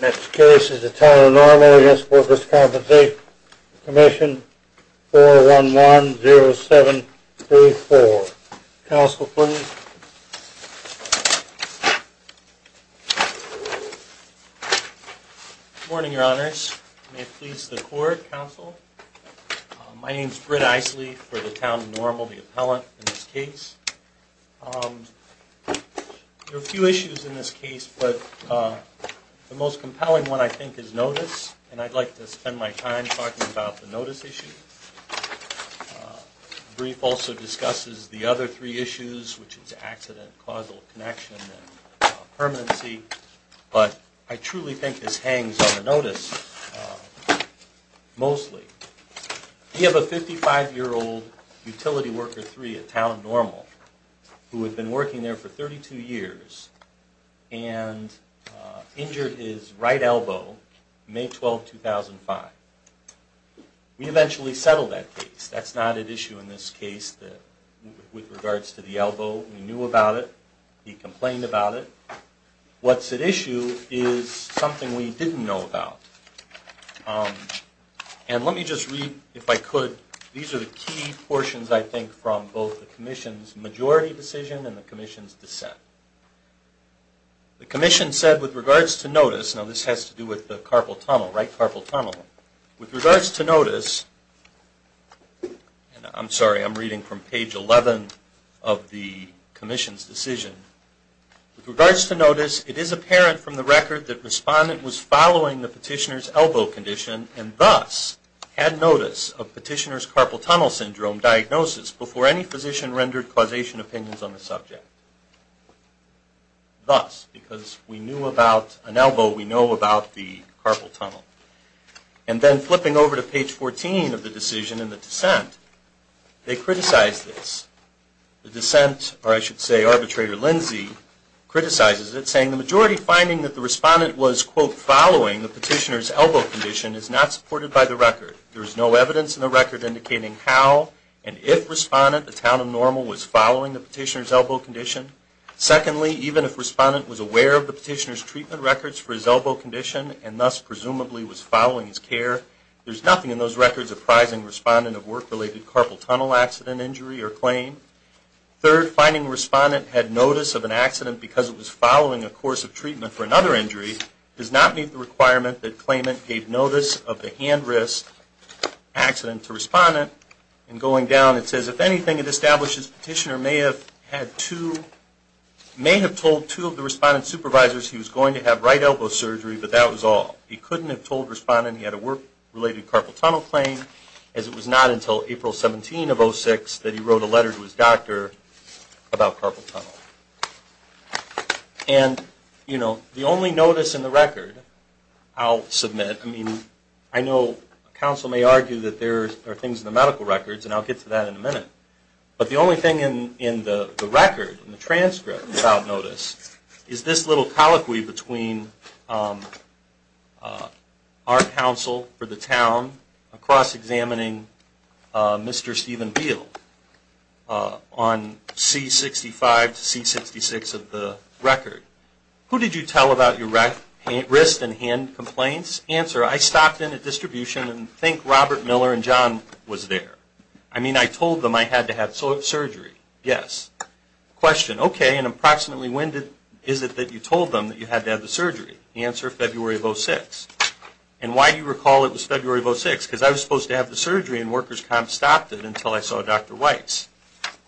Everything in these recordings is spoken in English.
Next case is the Town of Normal v. Workers' Compensation Comm'n 411-0734. Counsel, please. Good morning, Your Honors. May it please the Court, Counsel. My name is Britt Eisele for the Town of Normal, the appellant in this case. There are a few issues in this case, but the most compelling one, I think, is notice. And I'd like to spend my time talking about the notice issue. The brief also discusses the other three issues, which is accident, causal connection, and permanency. But I truly think this hangs on the notice mostly. We have a 55-year-old utility worker, three, at Town of Normal, who had been working there for 32 years and injured his right elbow May 12, 2005. We eventually settled that case. That's not at issue in this case with regards to the elbow. We knew about it. He complained about it. What's at issue is something we didn't know about. And let me just read, if I could, these are the key portions, I think, from both the Commission's majority decision and the Commission's dissent. The Commission said, with regards to notice, now this has to do with the carpal tunnel, right carpal tunnel. With regards to notice, I'm sorry, I'm reading from page 11 of the Commission's decision. With regards to notice, it is apparent from the record that respondent was following the petitioner's elbow condition and thus had notice of petitioner's carpal tunnel syndrome diagnosis before any physician rendered causation opinions on the subject. Thus, because we knew about an elbow, we know about the carpal tunnel. And then flipping over to page 14 of the decision in the dissent, they criticized this. The dissent, or I should say arbitrator Lindsey, criticizes it saying the majority finding that the respondent was, quote, following the petitioner's elbow condition is not supported by the record. There is no evidence in the record indicating how and if respondent, the town of Normal, was following the petitioner's elbow condition. Secondly, even if respondent was aware of the petitioner's elbow condition and thus presumably was following his care, there's nothing in those records apprising respondent of work-related carpal tunnel accident injury or claim. Third, finding respondent had notice of an accident because it was following a course of treatment for another injury does not meet the requirement that claimant gave notice of the hand wrist accident to respondent. And going down it says, if anything, it establishes petitioner may have had two, may have told two of the respondent's supervisors he was going to have right elbow surgery, but that was all. He couldn't have told respondent he had a work-related carpal tunnel claim as it was not until April 17 of 06 that he wrote a letter to his doctor about carpal tunnel. And, you know, the only notice in the record I'll submit, I mean, I know counsel may argue that there are things in the medical records and I'll get to that in a minute, but the only thing in the record, in the transcript about notice is this little colloquy between our counsel for the town across examining Mr. Stephen Beale on C-65 to C-66 of the record. Who did you tell about your wrist and hand complaints? Answer, I stopped in at distribution and think Robert Miller and John was there. I mean, I told them I had to have surgery. Yes. Question, okay, and approximately when is it that you told them that you had to have the surgery? Answer, February of 06. And why do you recall it was February of 06? Because I was supposed to have the surgery and workers' comp stopped it until I saw Dr. Weiss.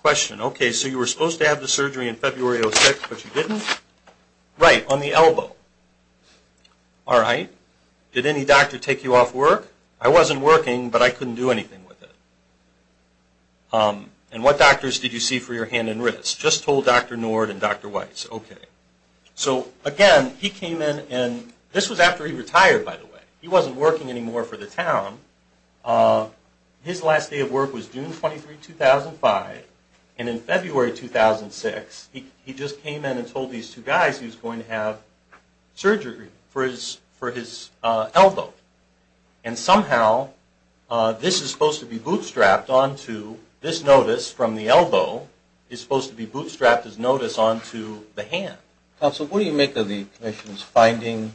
Question, okay, so you were supposed to have the surgery in February of 06, but you didn't? Right, on the elbow. All right. Did any doctor take you off work? I wasn't working, but I couldn't do anything with it. And what doctors did you see for your hand and wrist? Just told Dr. Nord and Dr. Weiss. Okay. So, again, he came in and this was after he retired, by the way. He wasn't working anymore for the town. His last day of work was June 23, 2005. And in February 2006, he just came in and told these two guys he was going to have surgery for his elbow. And somehow this is supposed to be bootstrapped onto this notice from the elbow is supposed to be bootstrapped as notice onto the hand. Counsel, what do you make of the statement?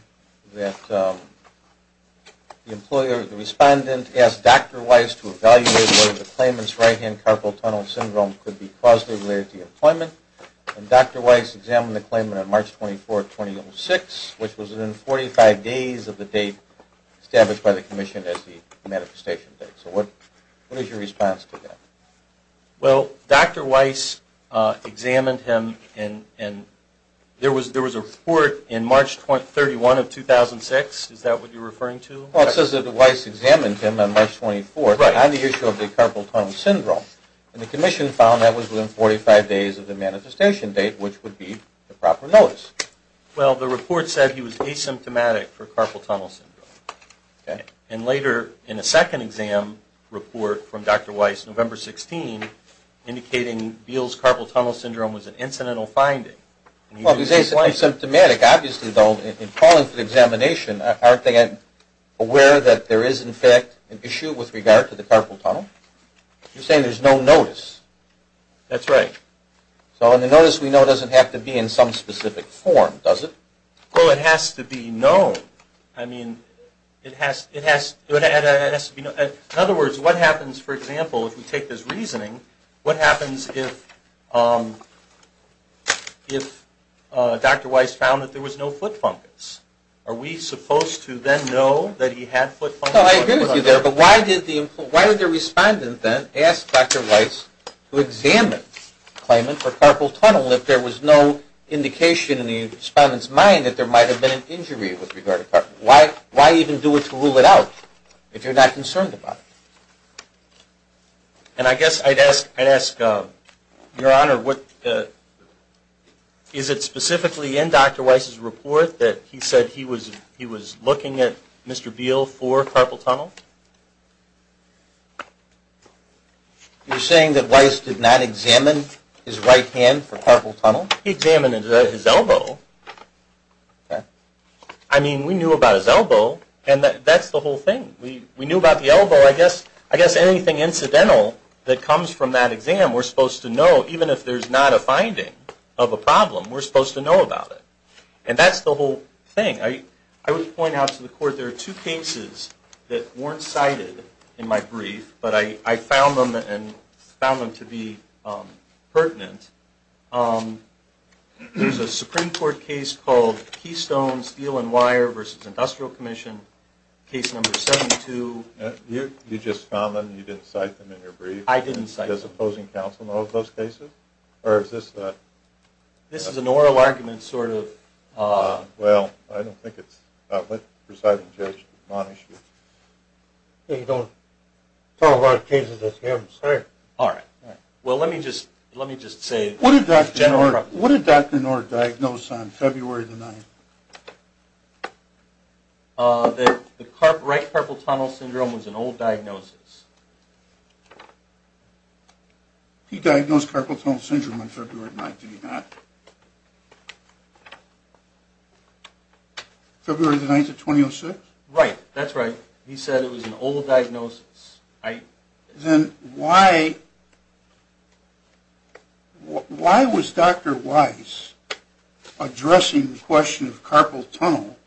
The respondent asked Dr. Weiss to evaluate whether the claimant's right-hand carpal tunnel syndrome could be caused by late deemployment. And Dr. Weiss examined the claimant on March 24, 2006, which was within 45 days of the date established by the commission as the manifestation date. So what is your response to that? Well, Dr. Weiss examined him and there was a report in March 31 of 2006. Is that what you're referring to? Well, it says that Weiss examined him on March 24 on the issue of the carpal tunnel syndrome. And the commission found that was within 45 days of the manifestation date, which would be the proper notice. Well, the report said he was asymptomatic for carpal tunnel syndrome. Okay. And later in a second exam report from Dr. Weiss, November 16, indicating Beal's carpal tunnel syndrome was an incidental finding. Well, he's asymptomatic. Obviously, though, in calling for the examination, aren't they aware that there is, in fact, an issue with regard to the carpal tunnel? You're saying there's no notice? That's right. So the notice we know doesn't have to be in some specific form, does it? Well, it has to be known. I mean, it has to be known. In other words, what happens, for example, if we take this reasoning, what happens if Dr. Weiss found that there was no foot fungus? Are we supposed to then know that he had foot fungus? No, I agree with you there, but why did the respondent then ask Dr. Weiss to examine claimant for carpal tunnel if there was no indication in the respondent's mind that there might be something about it? And I guess I'd ask, Your Honor, is it specifically in Dr. Weiss' report that he said he was looking at Mr. Beal for carpal tunnel? You're saying that Weiss did not examine his right hand for carpal tunnel? He examined his elbow. I mean, we knew about his elbow, and that's the whole thing. We knew about the elbow. I guess anything incidental that comes from that exam, we're supposed to know, even if there's not a finding of a problem, we're supposed to know about it. And that's the whole thing. I would point out to the Court, there are two cases that weren't cited in my brief, but I found them to be pertinent. There's a Supreme Court case called Keystone Steel and Wire v. Industrial Commission, case number 72. You just found them and you didn't cite them in your brief? I didn't cite them. Does opposing counsel know of those cases? This is an oral argument, sort of. Well, I don't think it's... Well, let me just say... What did Dr. Knorr diagnose on February 9? The right carpal tunnel syndrome was an old diagnosis. He diagnosed carpal tunnel syndrome on February 9, did he not? February 9, 2006? Right, that's right. He said it was an old diagnosis. Then why was Dr. Weiss addressing the question of carpal tunnel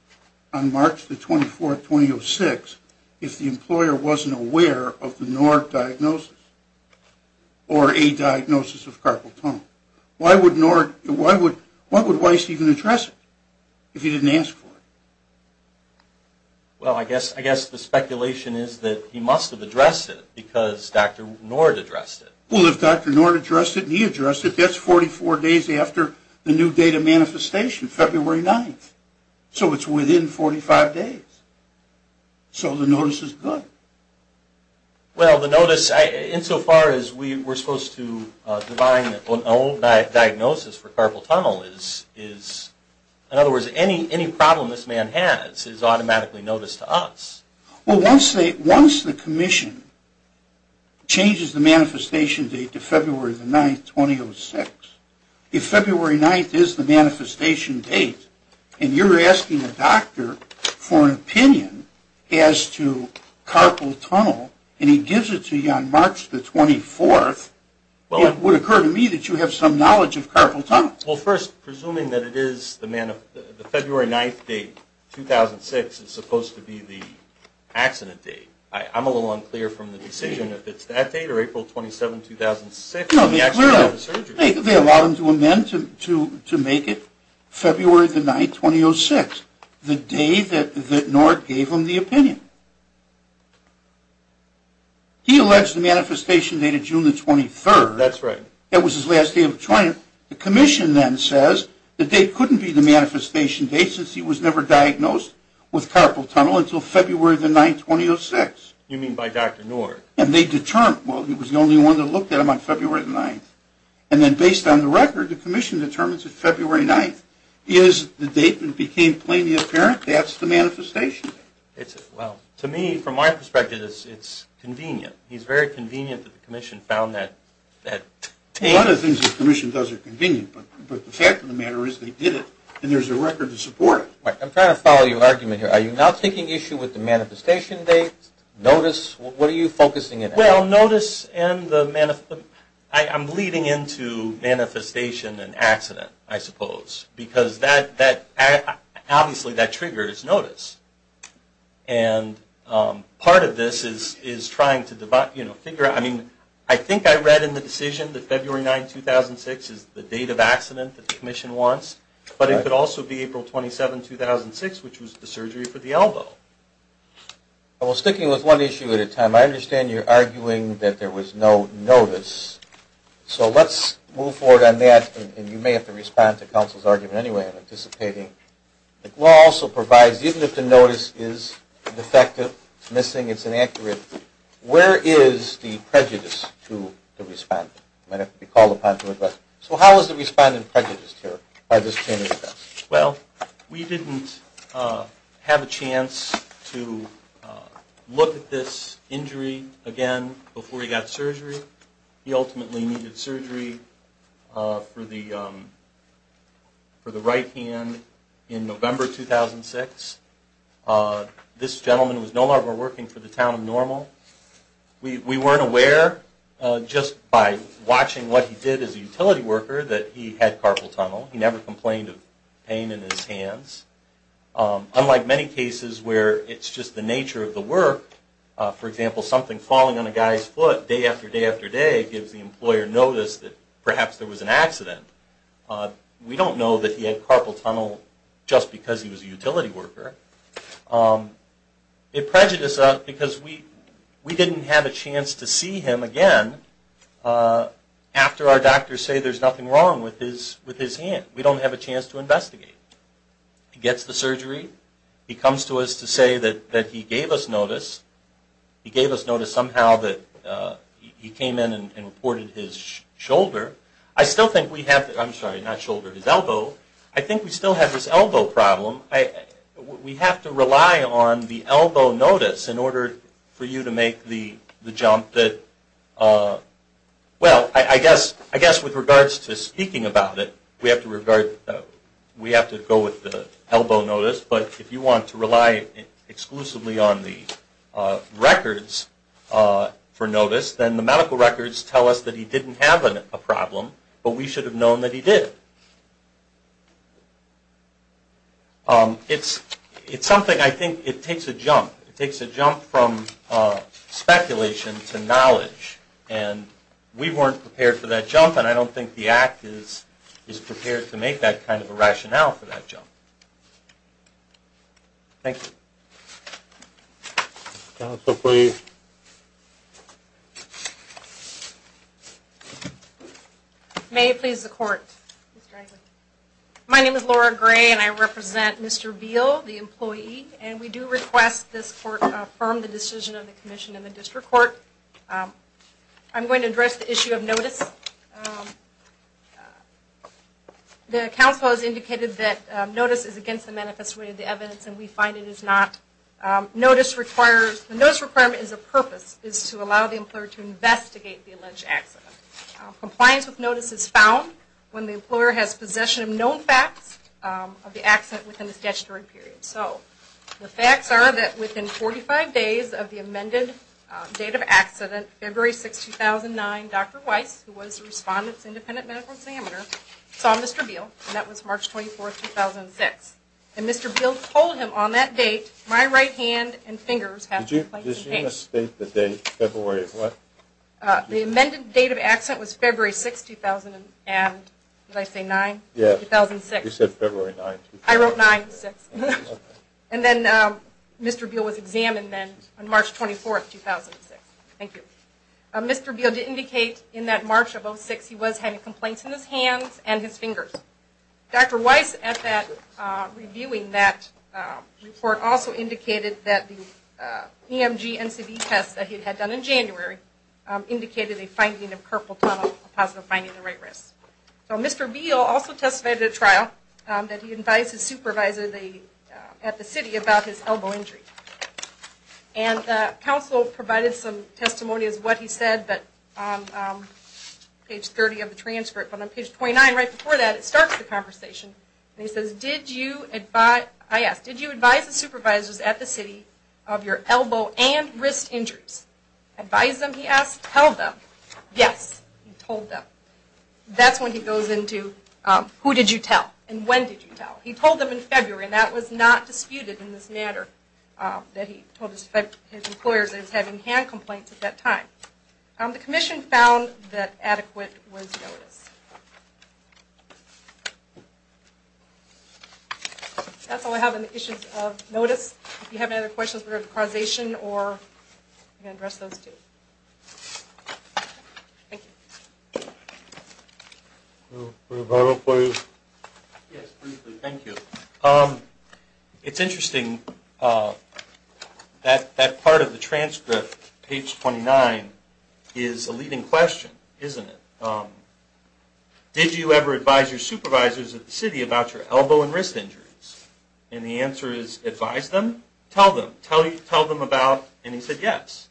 on March 24, 2006 if the employer wasn't aware of the Knorr diagnosis or a diagnosis of carpal tunnel? Why would Weiss even address it if he didn't ask for it? Well, I guess the speculation is that he must have addressed it because Dr. Knorr addressed it. Well, if Dr. Knorr addressed it and he addressed it, that's 44 days after the new date of manifestation, February 9. So it's within 45 days. So the notice is good. Well, the notice, insofar as we're supposed to define an old diagnosis for carpal tunnel is... In other words, any problem this man has is automatically noticed to us. Well, once the commission changes the manifestation date to February 9, 2006, if February 9 is the manifestation date and you're asking a doctor for an opinion as to carpal tunnel and he gives it to you on March 24, it would occur to me that you have some knowledge of carpal tunnel. Well, first, presuming that it is the February 9, 2006 is supposed to be the accident date. I'm a little unclear from the decision if it's that date or April 27, 2006. They allowed him to amend to make it February 9, 2006, the day that Knorr gave him the opinion. He alleged the manifestation date of June 23. That was his last day of training. The commission then says the date couldn't be the manifestation date since he was never diagnosed with carpal tunnel until February 9, 2006. You mean by Dr. Knorr? And they determined, well, he was the only one that looked at him on February 9. And then based on the record, the commission determines that February 9 is the date that became plainly apparent. That's the manifestation date. Well, to me, from my perspective, it's convenient. He's very convenient that the commission found that date. A lot of things the commission does are convenient, but the fact of the matter is they did it and there's a record to support it. I'm trying to follow your argument here. Are you now taking issue with the manifestation date, notice? What are you focusing on? Well, notice and the manifestation. I'm leading into manifestation and accident, I suppose, because obviously that triggers notice. And part of this is trying to figure out, I mean, I think I read in the decision that February 9, 2006 is the date of accident that the commission wants. But it could also be April 27, 2006, which was the surgery for the elbow. Well, sticking with one issue at a time, I understand you're arguing that there was no notice. So let's move forward on that. And you may have to respond to counsel's argument anyway. The law also provides, even if the notice is defective, missing, it's inaccurate, where is the prejudice to the respondent? So how is the respondent prejudiced here? Well, we didn't have a chance to look at this injury again before he got surgery. He ultimately needed surgery for the right hand We weren't aware, just by watching what he did as a utility worker, that he had carpal tunnel. He never complained of pain in his hands. Unlike many cases where it's just the nature of the work, for example, something falling on a guy's foot, day after day after day, gives the employer notice that perhaps there was an accident. We don't know that he had carpal tunnel just because he was a utility worker. It prejudices us because we didn't have a chance to see him again after our doctors say there's nothing wrong with his hand. We don't have a chance to investigate. He gets the surgery. He comes to us to say that he gave us notice. He gave us notice somehow that he came in and reported his shoulder. I still think we have, I'm sorry, not shoulder, his elbow. I think we still have this elbow problem. We have to rely on the elbow notice in order for you to make the jump that, well, I guess with regards to speaking about it, we have to regard, we have to go with the elbow notice. But if you want to rely exclusively on the records for notice, then the medical records tell us that he didn't have a problem, but we should have known that he did. It's something, I think it takes a jump. It takes a jump from speculation to knowledge. We weren't prepared for that jump, and I don't think the Act is prepared to make that kind of a rationale for that jump. Thank you. Counsel, please. May it please the Court. My name is Laura Gray, and I represent Mr. Veal, the employee, and we do request this Court affirm the decision of the Commission and the District Court. I'm going to address the issue of notice. The counsel has indicated that notice is against the manifest way of the evidence, and we find it is not. Notice requires, the notice requirement is a purpose, is to allow the employer to investigate the alleged accident. Compliance with notice is found when the employer has possession of known facts of the accident within the statutory period. The facts are that within 45 days of the amended date of accident, February 6, 2009, Dr. Weiss, who was the Respondent's independent medical examiner, saw Mr. Veal, and that was March 24, 2006. And Mr. Veal told him on that date, my right hand and fingers have been placed in pain. The amended date of accident was February 6, 2009. Did I say 9? 2006. I wrote 9. And then Mr. Veal was examined on March 24, 2006. Thank you. Mr. Veal did indicate in that March of 2006, he was having complaints in his hands and his fingers. Dr. Weiss at that time, reviewing that report, also indicated that the EMG NCV test that he had done in January, indicated a finding of purple tunnel, a positive finding in the right wrist. So Mr. Veal also testified at a trial that he advised his supervisor at the city about his elbow injury. And the council provided some testimonies of what he said, but on page 30 of the transcript, but on page 29, right before that, it starts the conversation. I asked, did you advise the supervisors at the city of your elbow and wrist injuries? Advise them, he asked. Tell them. Yes, he told them. That's when he goes into, who did you tell? And when did you tell? He told them in February, and that was not disputed in this matter, that he told his employers that he was having hand complaints at that time. The commission found that adequate was noticed. That's all I have on the issues of notice. If you have any other questions regarding causation or I can address those too. Thank you. Yes, briefly. Thank you. It's interesting, that part of the transcript, page 29, is a leading question, isn't it? Did you ever advise your supervisors at the city about your elbow and wrist injuries? And the answer is, advise them, tell them. Tell them about, and he said yes.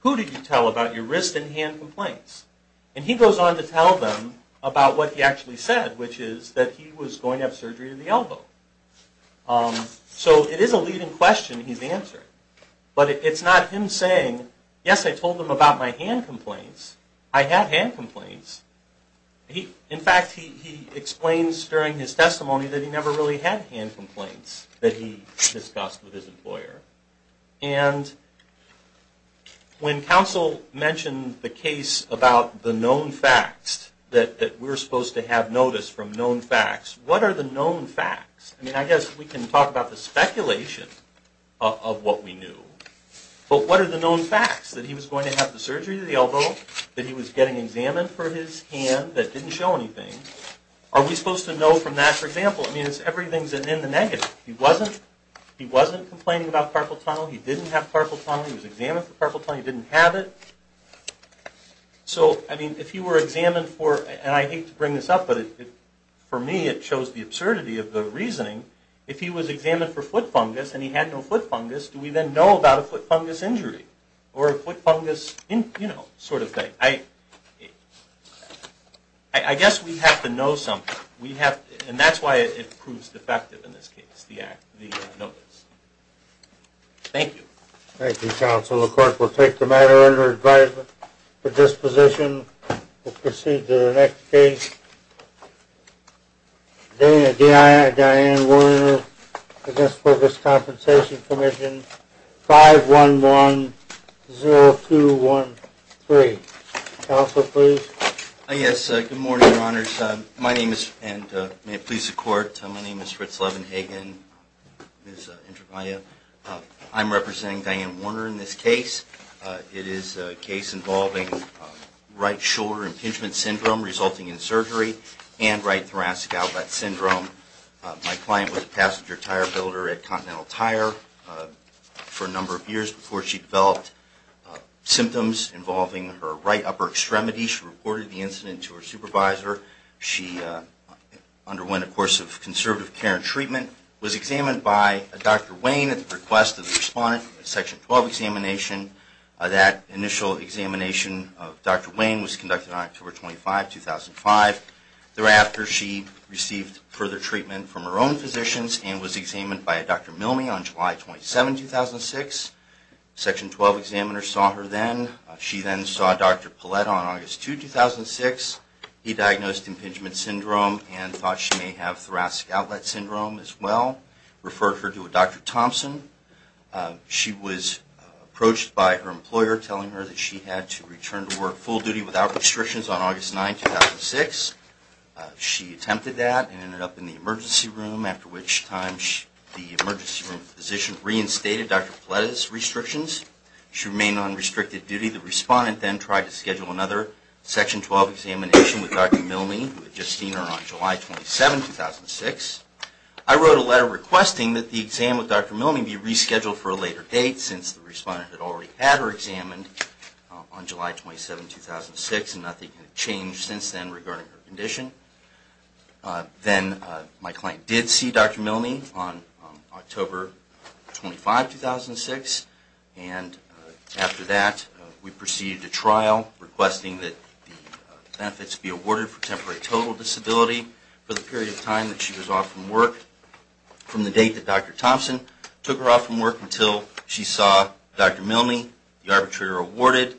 Who did you tell about your wrist and hand complaints? And he goes on to tell them about what he actually said, which is that he was going to have surgery to the elbow. So it is a leading question he's answering. But it's not him saying, yes, I told them about my hand complaints. I had hand complaints. In fact, he explains during his testimony that he never really had hand complaints that he discussed with his employer. And when counsel mentioned the case about the known facts, that we're supposed to have notice from known facts, what are the known facts? I mean, I guess we can talk about the speculation of what we knew, but what are the known facts? That he was going to have the surgery to the elbow? That he was getting examined for his hand that didn't show anything? Are we supposed to know from that, for example? I mean, everything is in the negative. He wasn't complaining about carpal tunnel. He didn't have carpal tunnel. He was examined for carpal tunnel. He didn't have it. So, I mean, if he were examined for, and I hate to bring this up, but for me, it shows the absurdity of the reasoning. If he was examined for foot fungus and he had no foot fungus, do we then know about a foot fungus injury? Or a foot fungus, you know, sort of thing? I guess we have to know something. And that's why it proves defective in this case, the notice. Thank you. Thank you, counsel. The court will take the matter under advisement. With this position, we'll proceed to the next case. Diana Warner, Against Focus Compensation Commission, 5-1-1-0-2-1-3. Counselor, please. Yes, good morning, your honors. My name is, and may it please the court, my name is Fritz Levenhagen. I'm representing Diana Warner in this case. It is a case involving right shoulder impingement syndrome resulting in surgery and right thoracic alvet syndrome. My client was a passenger tire builder at Continental Tire for a number of years before she developed symptoms involving her right upper extremity. She reported the incident to her supervisor. She underwent a course of conservative care and treatment, was examined by Dr. Wayne at the request of the respondent, a Section 12 examination. That initial examination of Dr. Wayne was conducted on October 25, 2005. Thereafter, she received further treatment from her own physicians and was examined by Dr. Milne on July 27, 2006. Section 12 examiners saw her then. She then saw Dr. Palletta on August 2, 2006. He diagnosed impingement syndrome and thought she may have thoracic outlet syndrome as well, referred her to a Dr. Thompson. She was approached by her employer telling her that she had to return to work full duty without restrictions on August 9, 2006. She attempted that and ended up in the emergency room, after which time the emergency room physician reinstated Dr. Palletta's restrictions. She remained on restricted duty. The respondent then tried to schedule another Section 12 examination with Dr. Milne, who had just seen her on July 27, 2006. I wrote a letter requesting that the exam with Dr. Milne be rescheduled for a later date, since the respondent had already had her examined on July 27, 2006, and nothing had changed since then regarding her condition. Then my client did see Dr. Milne on October 25, 2006, and after that we proceeded to trial, requesting that the benefits be awarded for temporary total disability for the period of time that she was off from work, from the date that Dr. Thompson took her off from work until she saw Dr. Milne, the arbitrator awarded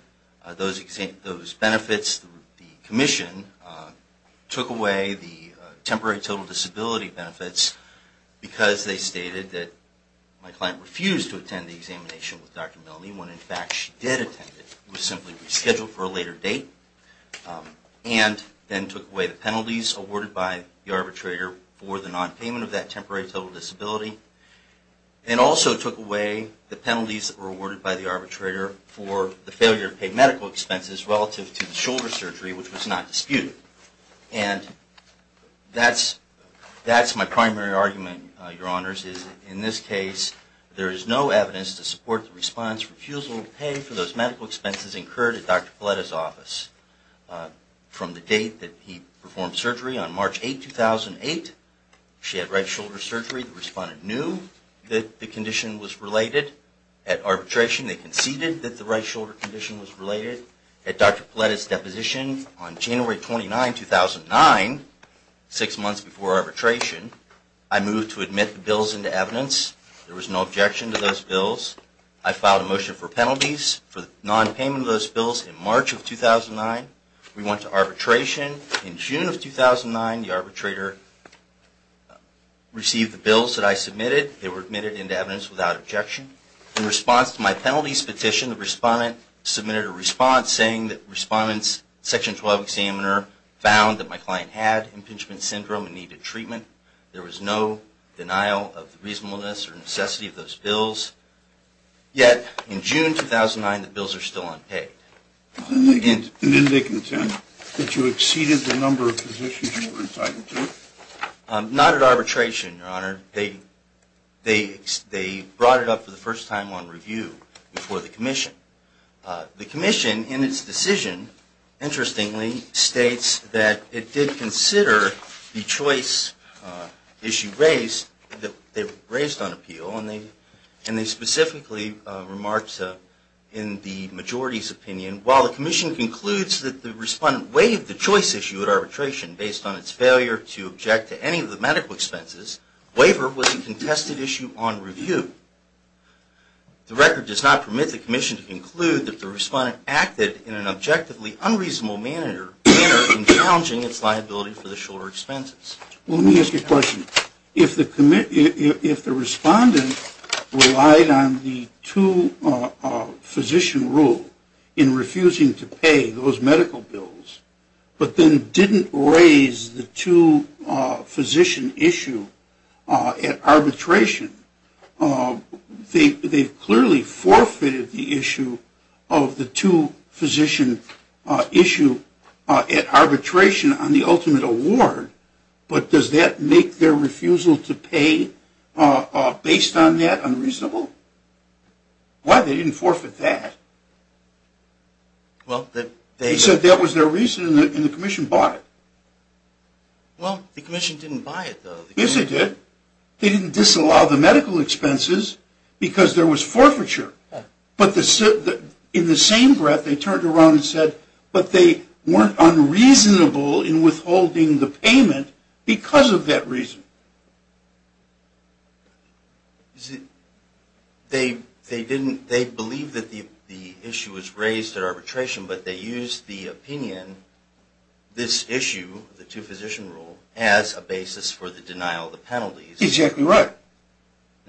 those benefits. The commission took away the temporary total disability benefits because they stated that my client refused to attend the examination with Dr. Milne, when in fact she did attend it. It was simply rescheduled for a later date, and then took away the penalties awarded by the arbitrator for the nonpayment of that temporary total disability, and also took away the penalties that were awarded by the arbitrator for the failure to pay medical expenses relative to the shoulder surgery, which was not disputed. And that's my primary argument, Your Honor, that those medical expenses incurred at Dr. Paletta's office. From the date that he performed surgery, on March 8, 2008, she had right shoulder surgery. The respondent knew that the condition was related. At arbitration they conceded that the right shoulder condition was related. At Dr. Paletta's deposition on January 29, 2009, six months before arbitration, I moved to nonpayment of those bills in March of 2009. We went to arbitration. In June of 2009, the arbitrator received the bills that I submitted. They were admitted into evidence without objection. In response to my penalties petition, the respondent submitted a response saying that respondent's Section 12 examiner found that my client had impingement syndrome and needed treatment. There was no denial of the reasonableness or necessity of those bills. Yet, in June 2009, the bills are still unpaid. And didn't they contend that you exceeded the number of positions you were entitled to? Not at arbitration, Your Honor. They brought it up for the first time on review before the commission. The commission, in its decision, interestingly, states that they were raised on appeal and they specifically remarked in the majority's opinion, while the commission concludes that the respondent waived the choice issue at arbitration based on its failure to object to any of the medical expenses, waiver was a contested issue on review. The record does not permit the commission to conclude that the respondent acted in an objectively unreasonable manner in challenging its liability for the shoulder expenses. Well, let me ask you a question. If the respondent relied on the two-physician rule in refusing to pay those medical bills but then didn't raise the two-physician issue at arbitration, they've clearly forfeited the issue of the two-physician issue at arbitration on the ultimate award, but does that make their refusal to pay based on that unreasonable? Why? They didn't forfeit that. Well, they said that was their reason and the commission bought it. Well, the commission didn't buy it, though. Yes, they did. They didn't disallow the medical expenses because there was weren't unreasonable in withholding the payment because of that reason. They believed that the issue was raised at arbitration, but they used the opinion this issue, the two-physician rule, as a basis for the denial of the penalties. Exactly right.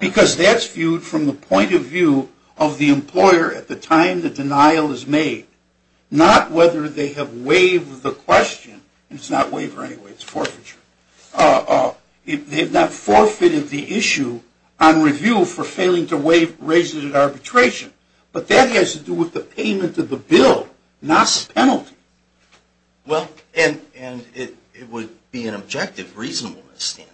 Because that's viewed from the point of view of the employer at the time the denial is made, not whether they have waived the question. It's not waiver anyway, it's forfeiture. They've not forfeited the issue on review for failing to raise it at arbitration, but that has to do with the payment of the bill, not the penalty. Well, and it would be an objective reasonableness standard.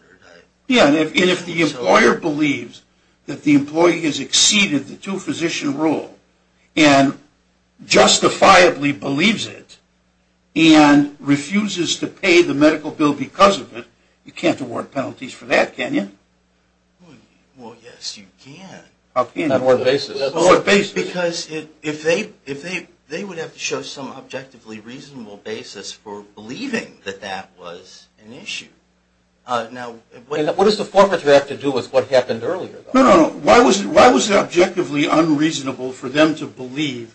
Yeah, and if the employer believes that the employee has exceeded the two-physician rule and justifiably believes it and refuses to pay the medical bill because of it, you can't award penalties for that, can you? Well, yes, you can. How can you? On what basis? Because they would have to show some objectively reasonable basis for believing that that was an issue. Now, what does the forfeiture have to do with what happened earlier? No, no, no. Why was it objectively unreasonable for them to believe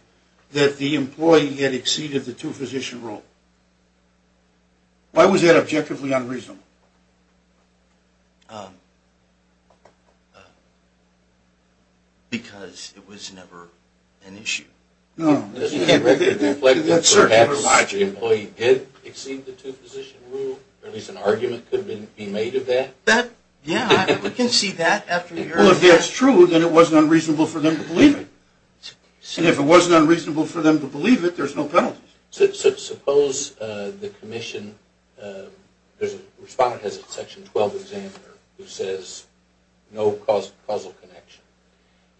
that the employee had exceeded the two-physician rule? Why was that objectively unreasonable? Because it was never an issue. No. Doesn't that reflect that perhaps the employee did exceed the two-physician rule? Or at least an argument could be made of that? Yeah, we can see that after hearing that. Well, if that's true, then it wasn't unreasonable for them to believe it. And if it wasn't unreasonable for them to believe it, there's no penalties. Suppose the commission, the respondent has a section 12 examiner who says no causal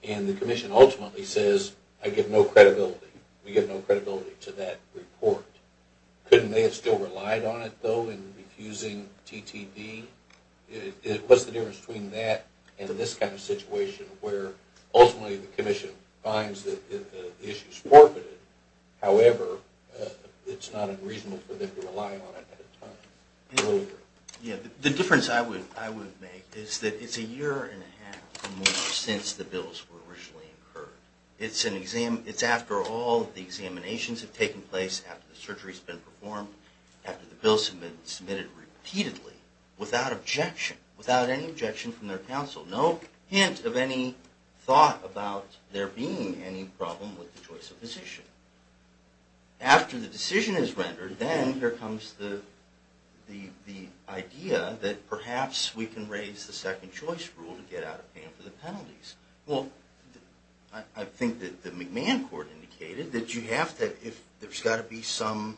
And the commission ultimately says, I give no credibility. We give no credibility to that report. Couldn't they have still relied on it, though, in refusing TTV? What's the difference between that and this kind of situation where ultimately the commission finds that the issue's forfeited, however, it's not unreasonable for them to rely on it at the time? The difference I would make is that it's a year and a half or more since the bills were originally incurred. It's after all the examinations have taken place, after the surgery's been performed, after the bills have been submitted repeatedly, without objection, without any objection from their counsel. No hint of any thought about there being any problem with the choice of physician. After the decision is rendered, then here comes the idea that perhaps we can raise the second choice rule to get out of paying for the penalties. Well, I think that the McMahon court indicated that you have to, if there's got to be some,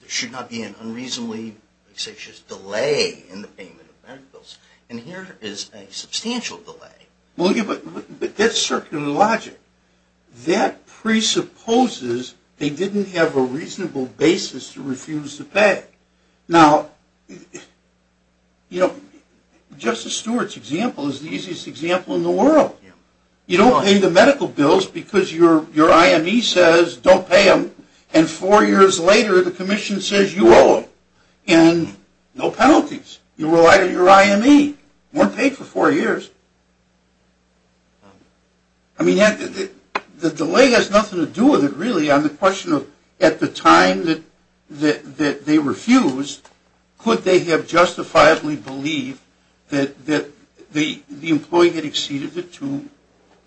there should not be an unreasonably, let's say, just delay in the payment of medical bills. And here is a substantial delay. But that's circular logic. That presupposes they didn't have a reasonable basis to refuse to pay. Now, you know, Justice Stewart's example is the easiest example in the world. You don't pay the medical bills because your IME says don't pay them, and four years later the commission says you owe them, and no penalties. You rely on your IME. You weren't paid for four years. I mean, the delay has nothing to do with it, really, on the question of at the time that they refused, could they have justifiably believed that the employee had exceeded the two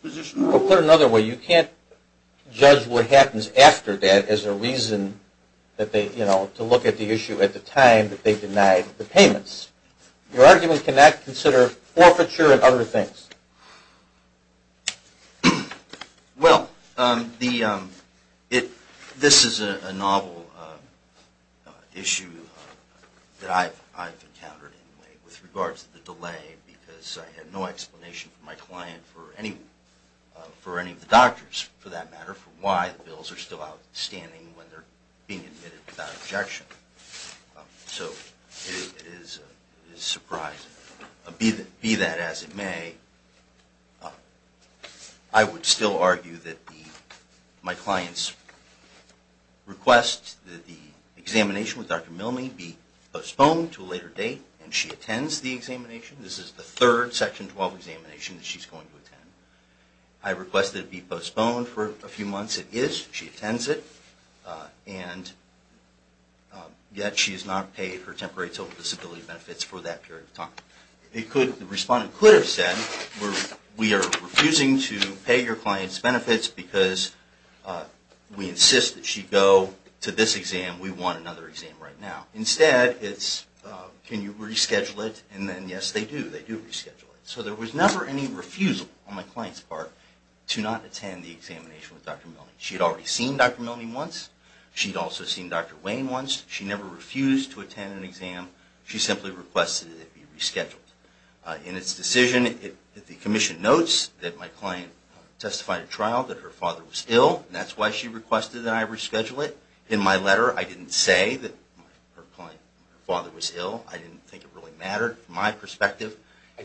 position rules? Well, put it another way. You can't judge what happens after that as a reason that they, you know, to look at the issue at the time that they denied the payments. Your argument can not consider forfeiture and other things. Well, this is a novel issue that I've encountered in a way with regards to the delay because I had no explanation from my client for any of the doctors, for that matter, for why the bills are still outstanding when they're being admitted without objection. So it is surprising. Be that as it may, I would still argue that my client's request that the examination with Dr. Milne be postponed to a later date, and she attends the examination. This is the third Section 12 examination that she's going to attend. I request that it be postponed for a few months. It is. She attends it, and yet she has not paid her temporary total disability benefits for that period of time. The respondent could have said, we are refusing to pay your client's benefits because we insist that she go to this exam. We want another exam right now. Instead, it's, can you reschedule it? And then, yes, they do. They do reschedule it. So there was never any refusal on my client's part to not attend the examination with Dr. Milne. She had already seen Dr. Milne once. She had also seen Dr. Wayne once. She never refused to attend an exam. She simply requested that it be rescheduled. In its decision, the Commission notes that my client testified at trial that her father was ill, and that's why she requested that I reschedule it. In my letter, I didn't say that her father was ill. I didn't think it really mattered. From my perspective,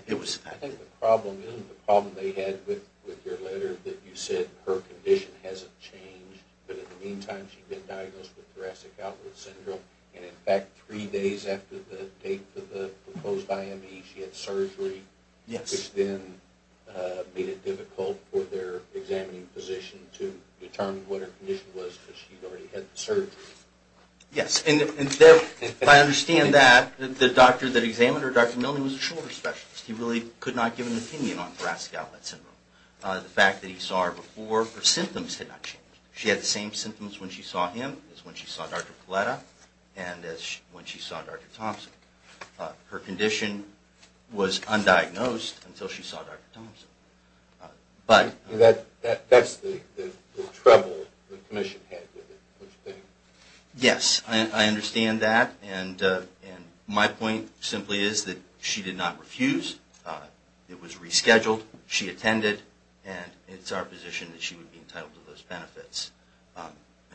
it was. I think the problem is, the problem they had with your letter, that you said her condition hasn't changed, but in the meantime, she'd been diagnosed with thoracic outward syndrome, and in fact, three days after the date for the proposed IME, she had surgery. Yes. Which then made it difficult for their examining physician to determine what her condition was because she'd already had the surgery. Yes, and I understand that. The doctor that examined her, Dr. Milne, was a shoulder specialist. He really could not give an opinion on thoracic outward syndrome. The fact that he saw her before, her symptoms had not changed. She had the same symptoms when she saw him as when she saw Dr. Paletta, and when she saw Dr. Thompson. That's the trouble the commission had with it. Yes, I understand that, and my point simply is that she did not refuse. It was rescheduled. She attended, and it's our position that she would be entitled to those benefits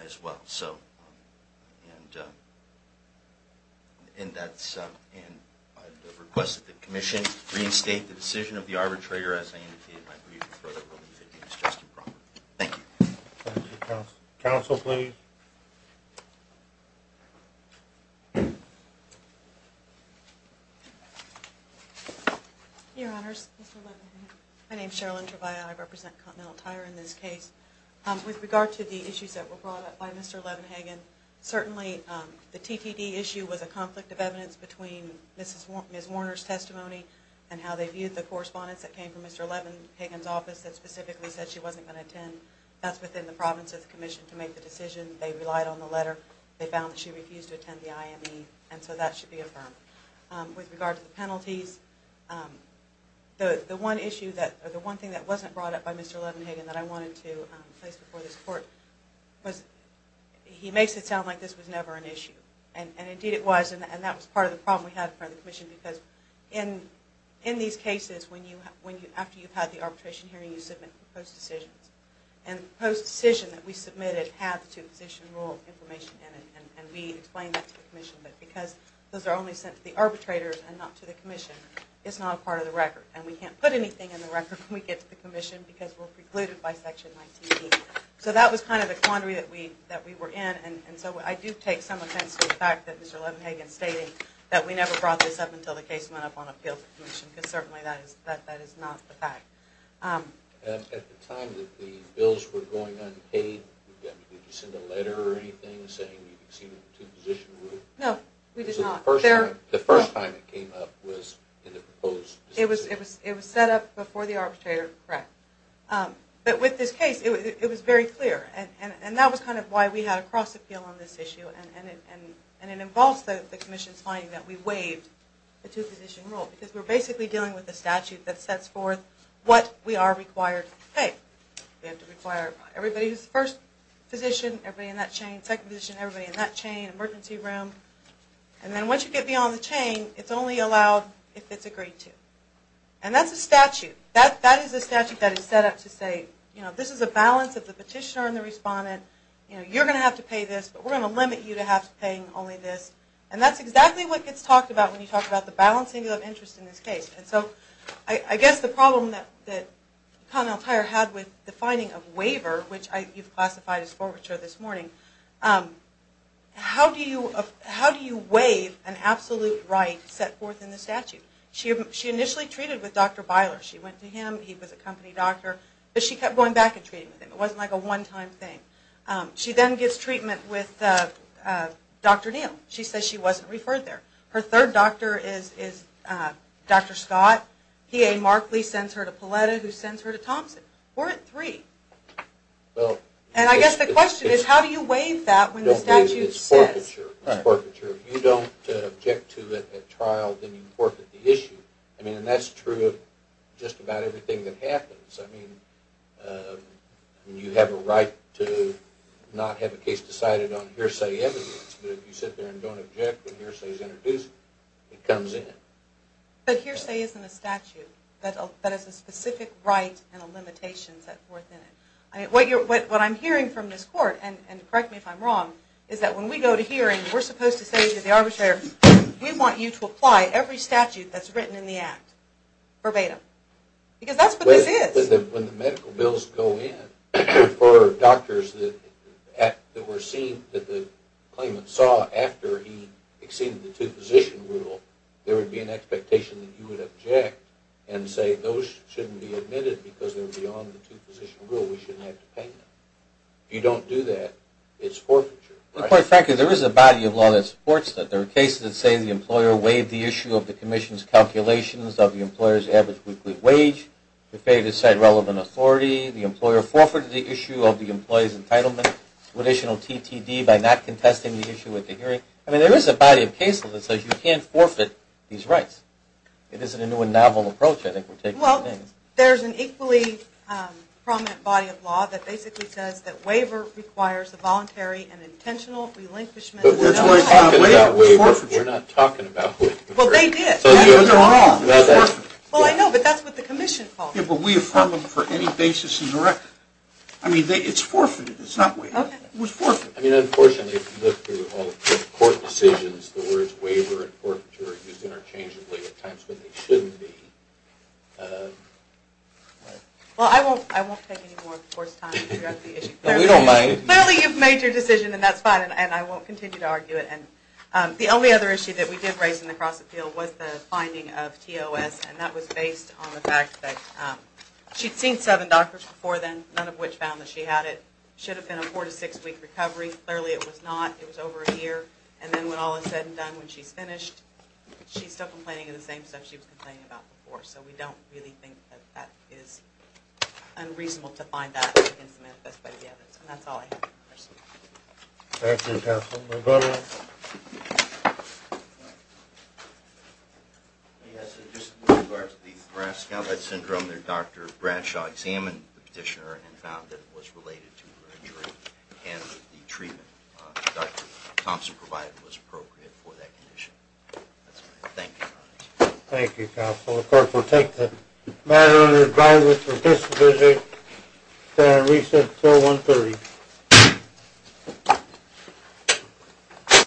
as well. And I'd request that the commission restate the decision of the arbitrator as I indicated in my brief and throw that over to you, if that's just and proper. Thank you. Thank you. Counsel, please. Your Honors, Mr. Levin. My name is Sherilyn Trevaya. I represent Continental Tire in this case. With regard to the issues that were brought up by Mr. Levin-Hagan, certainly the TTD issue was a conflict of evidence between Ms. Warner's testimony and how they viewed the correspondence that came from Mr. Levin-Hagan's office that specifically said she wasn't going to attend. That's within the province of the commission to make the decision. They relied on the letter. They found that she refused to attend the IME, and so that should be affirmed. With regard to the penalties, the one thing that wasn't brought up by Mr. Levin-Hagan that I wanted to place before this court was he makes it sound like this was never an issue, and indeed it was, and that was part of the problem we had in front of the commission because in these cases, after you've had the arbitration hearing, you submit proposed decisions, and the proposed decision that we submitted had the two-position rule information in it, and we explained that to the commission, but because those are only sent to the arbitrators and not to the commission, it's not a part of the record, and we can't put anything in the record when we get to the commission because we're precluded by Section 19B. So that was kind of the quandary that we were in, and so I do take some offense to the fact that Mr. Levin-Hagan's stating that we never brought this up until the case went up on appeal to the commission because certainly that is not the fact. At the time that the bills were going unpaid, did you send a letter or anything saying you exceeded the two-position rule? No, we did not. The first time it came up was in the proposed decision. It was set up before the arbitrator. Correct. But with this case, it was very clear, and that was kind of why we had a cross-appeal on this issue, and it involves the commission's finding that we waived the two-position rule because we're basically dealing with a statute that sets forth what we are required to pay. We have to require everybody who's the first position, everybody in that chain, second position, everybody in that chain, emergency room. And then once you get beyond the chain, it's only allowed if it's agreed to. And that's a statute. That is a statute that is set up to say, you know, this is a balance of the petitioner and the respondent. You're going to have to pay this, but we're going to limit you to paying only this. And that's exactly what gets talked about when you talk about the balancing of interest in this case. And so I guess the problem that Connell-Tyer had with the finding of waiver, which you've classified as forfeiture this morning, how do you waive an absolute right set forth in the statute? She initially treated with Dr. Byler. She went to him. He was a company doctor. But she kept going back and treating with him. It wasn't like a one-time thing. She then gets treatment with Dr. Neal. She says she wasn't referred there. Her third doctor is Dr. Scott. PA Markley sends her to Pauletta, who sends her to Thompson. Four and three. And I guess the question is, how do you waive that when the statute says? It's forfeiture. It's forfeiture. If you don't object to it at trial, then you forfeit the issue. I mean, and that's true of just about everything that happens. I mean, you have a right to not have a case decided on hearsay evidence. But if you sit there and don't object when hearsay is introduced, it comes in. But hearsay isn't a statute. That is a specific right and a limitation set forth in it. What I'm hearing from this court, and correct me if I'm wrong, is that when we go to hearing, we're supposed to say to the arbitrator, we want you to apply every statute that's written in the act verbatim. Because that's what this is. When the medical bills go in for doctors that were seen, that the claimant saw after he exceeded the two-position rule, there would be an expectation that you would object and say, those shouldn't be admitted because they're beyond the two-position rule. We shouldn't have to pay them. If you don't do that, it's forfeiture. Quite frankly, there is a body of law that supports that. There are cases that say the employer waived the issue of the commission's calculations of the employer's average weekly wage. If they decide relevant authority, the employer forfeited the issue of the employee's entitlement to additional TTD by not contesting the issue at the hearing. I mean, there is a body of case law that says you can't forfeit these rights. It isn't a new and novel approach I think we're taking. Well, there's an equally prominent body of law that basically says that waiver requires a voluntary and intentional relinquishment. That's why I'm talking about waiver. It's forfeiture. We're not talking about waiver. Well, they did. They're wrong. Well, I know, but that's what the commission calls it. Yeah, but we affirm them for any basis in the record. I mean, it's forfeited. It's not waiver. It was forfeited. I mean, unfortunately, if you look through all the court decisions, the words waiver and forfeiture are used interchangeably at times when they shouldn't be. Well, I won't take any more of the Court's time to figure out the issue. Clearly, you've made your decision, and that's fine, and I won't continue to argue it. The only other issue that we did raise in the cross-appeal was the finding of TOS, and that was based on the fact that she'd seen seven doctors before then, none of which found that she had it. It should have been a four- to six-week recovery. Clearly, it was not. It was over a year. And then when all is said and done, when she's finished, she's still complaining of the same stuff she was complaining about before. So we don't really think that that is unreasonable to find that against the manifesto of the evidence. And that's all I have. Thank you, Counsel. Yes, in regards to the Bradshaw Syndrome, Dr. Bradshaw examined the petitioner and found that it was related to her injury and the treatment Dr. Thompson provided was appropriate for that condition. That's all I have. Thank you, Your Honor. Thank you, Counsel. The court will take the matter under advisement for disposition and reset until 1 p.m.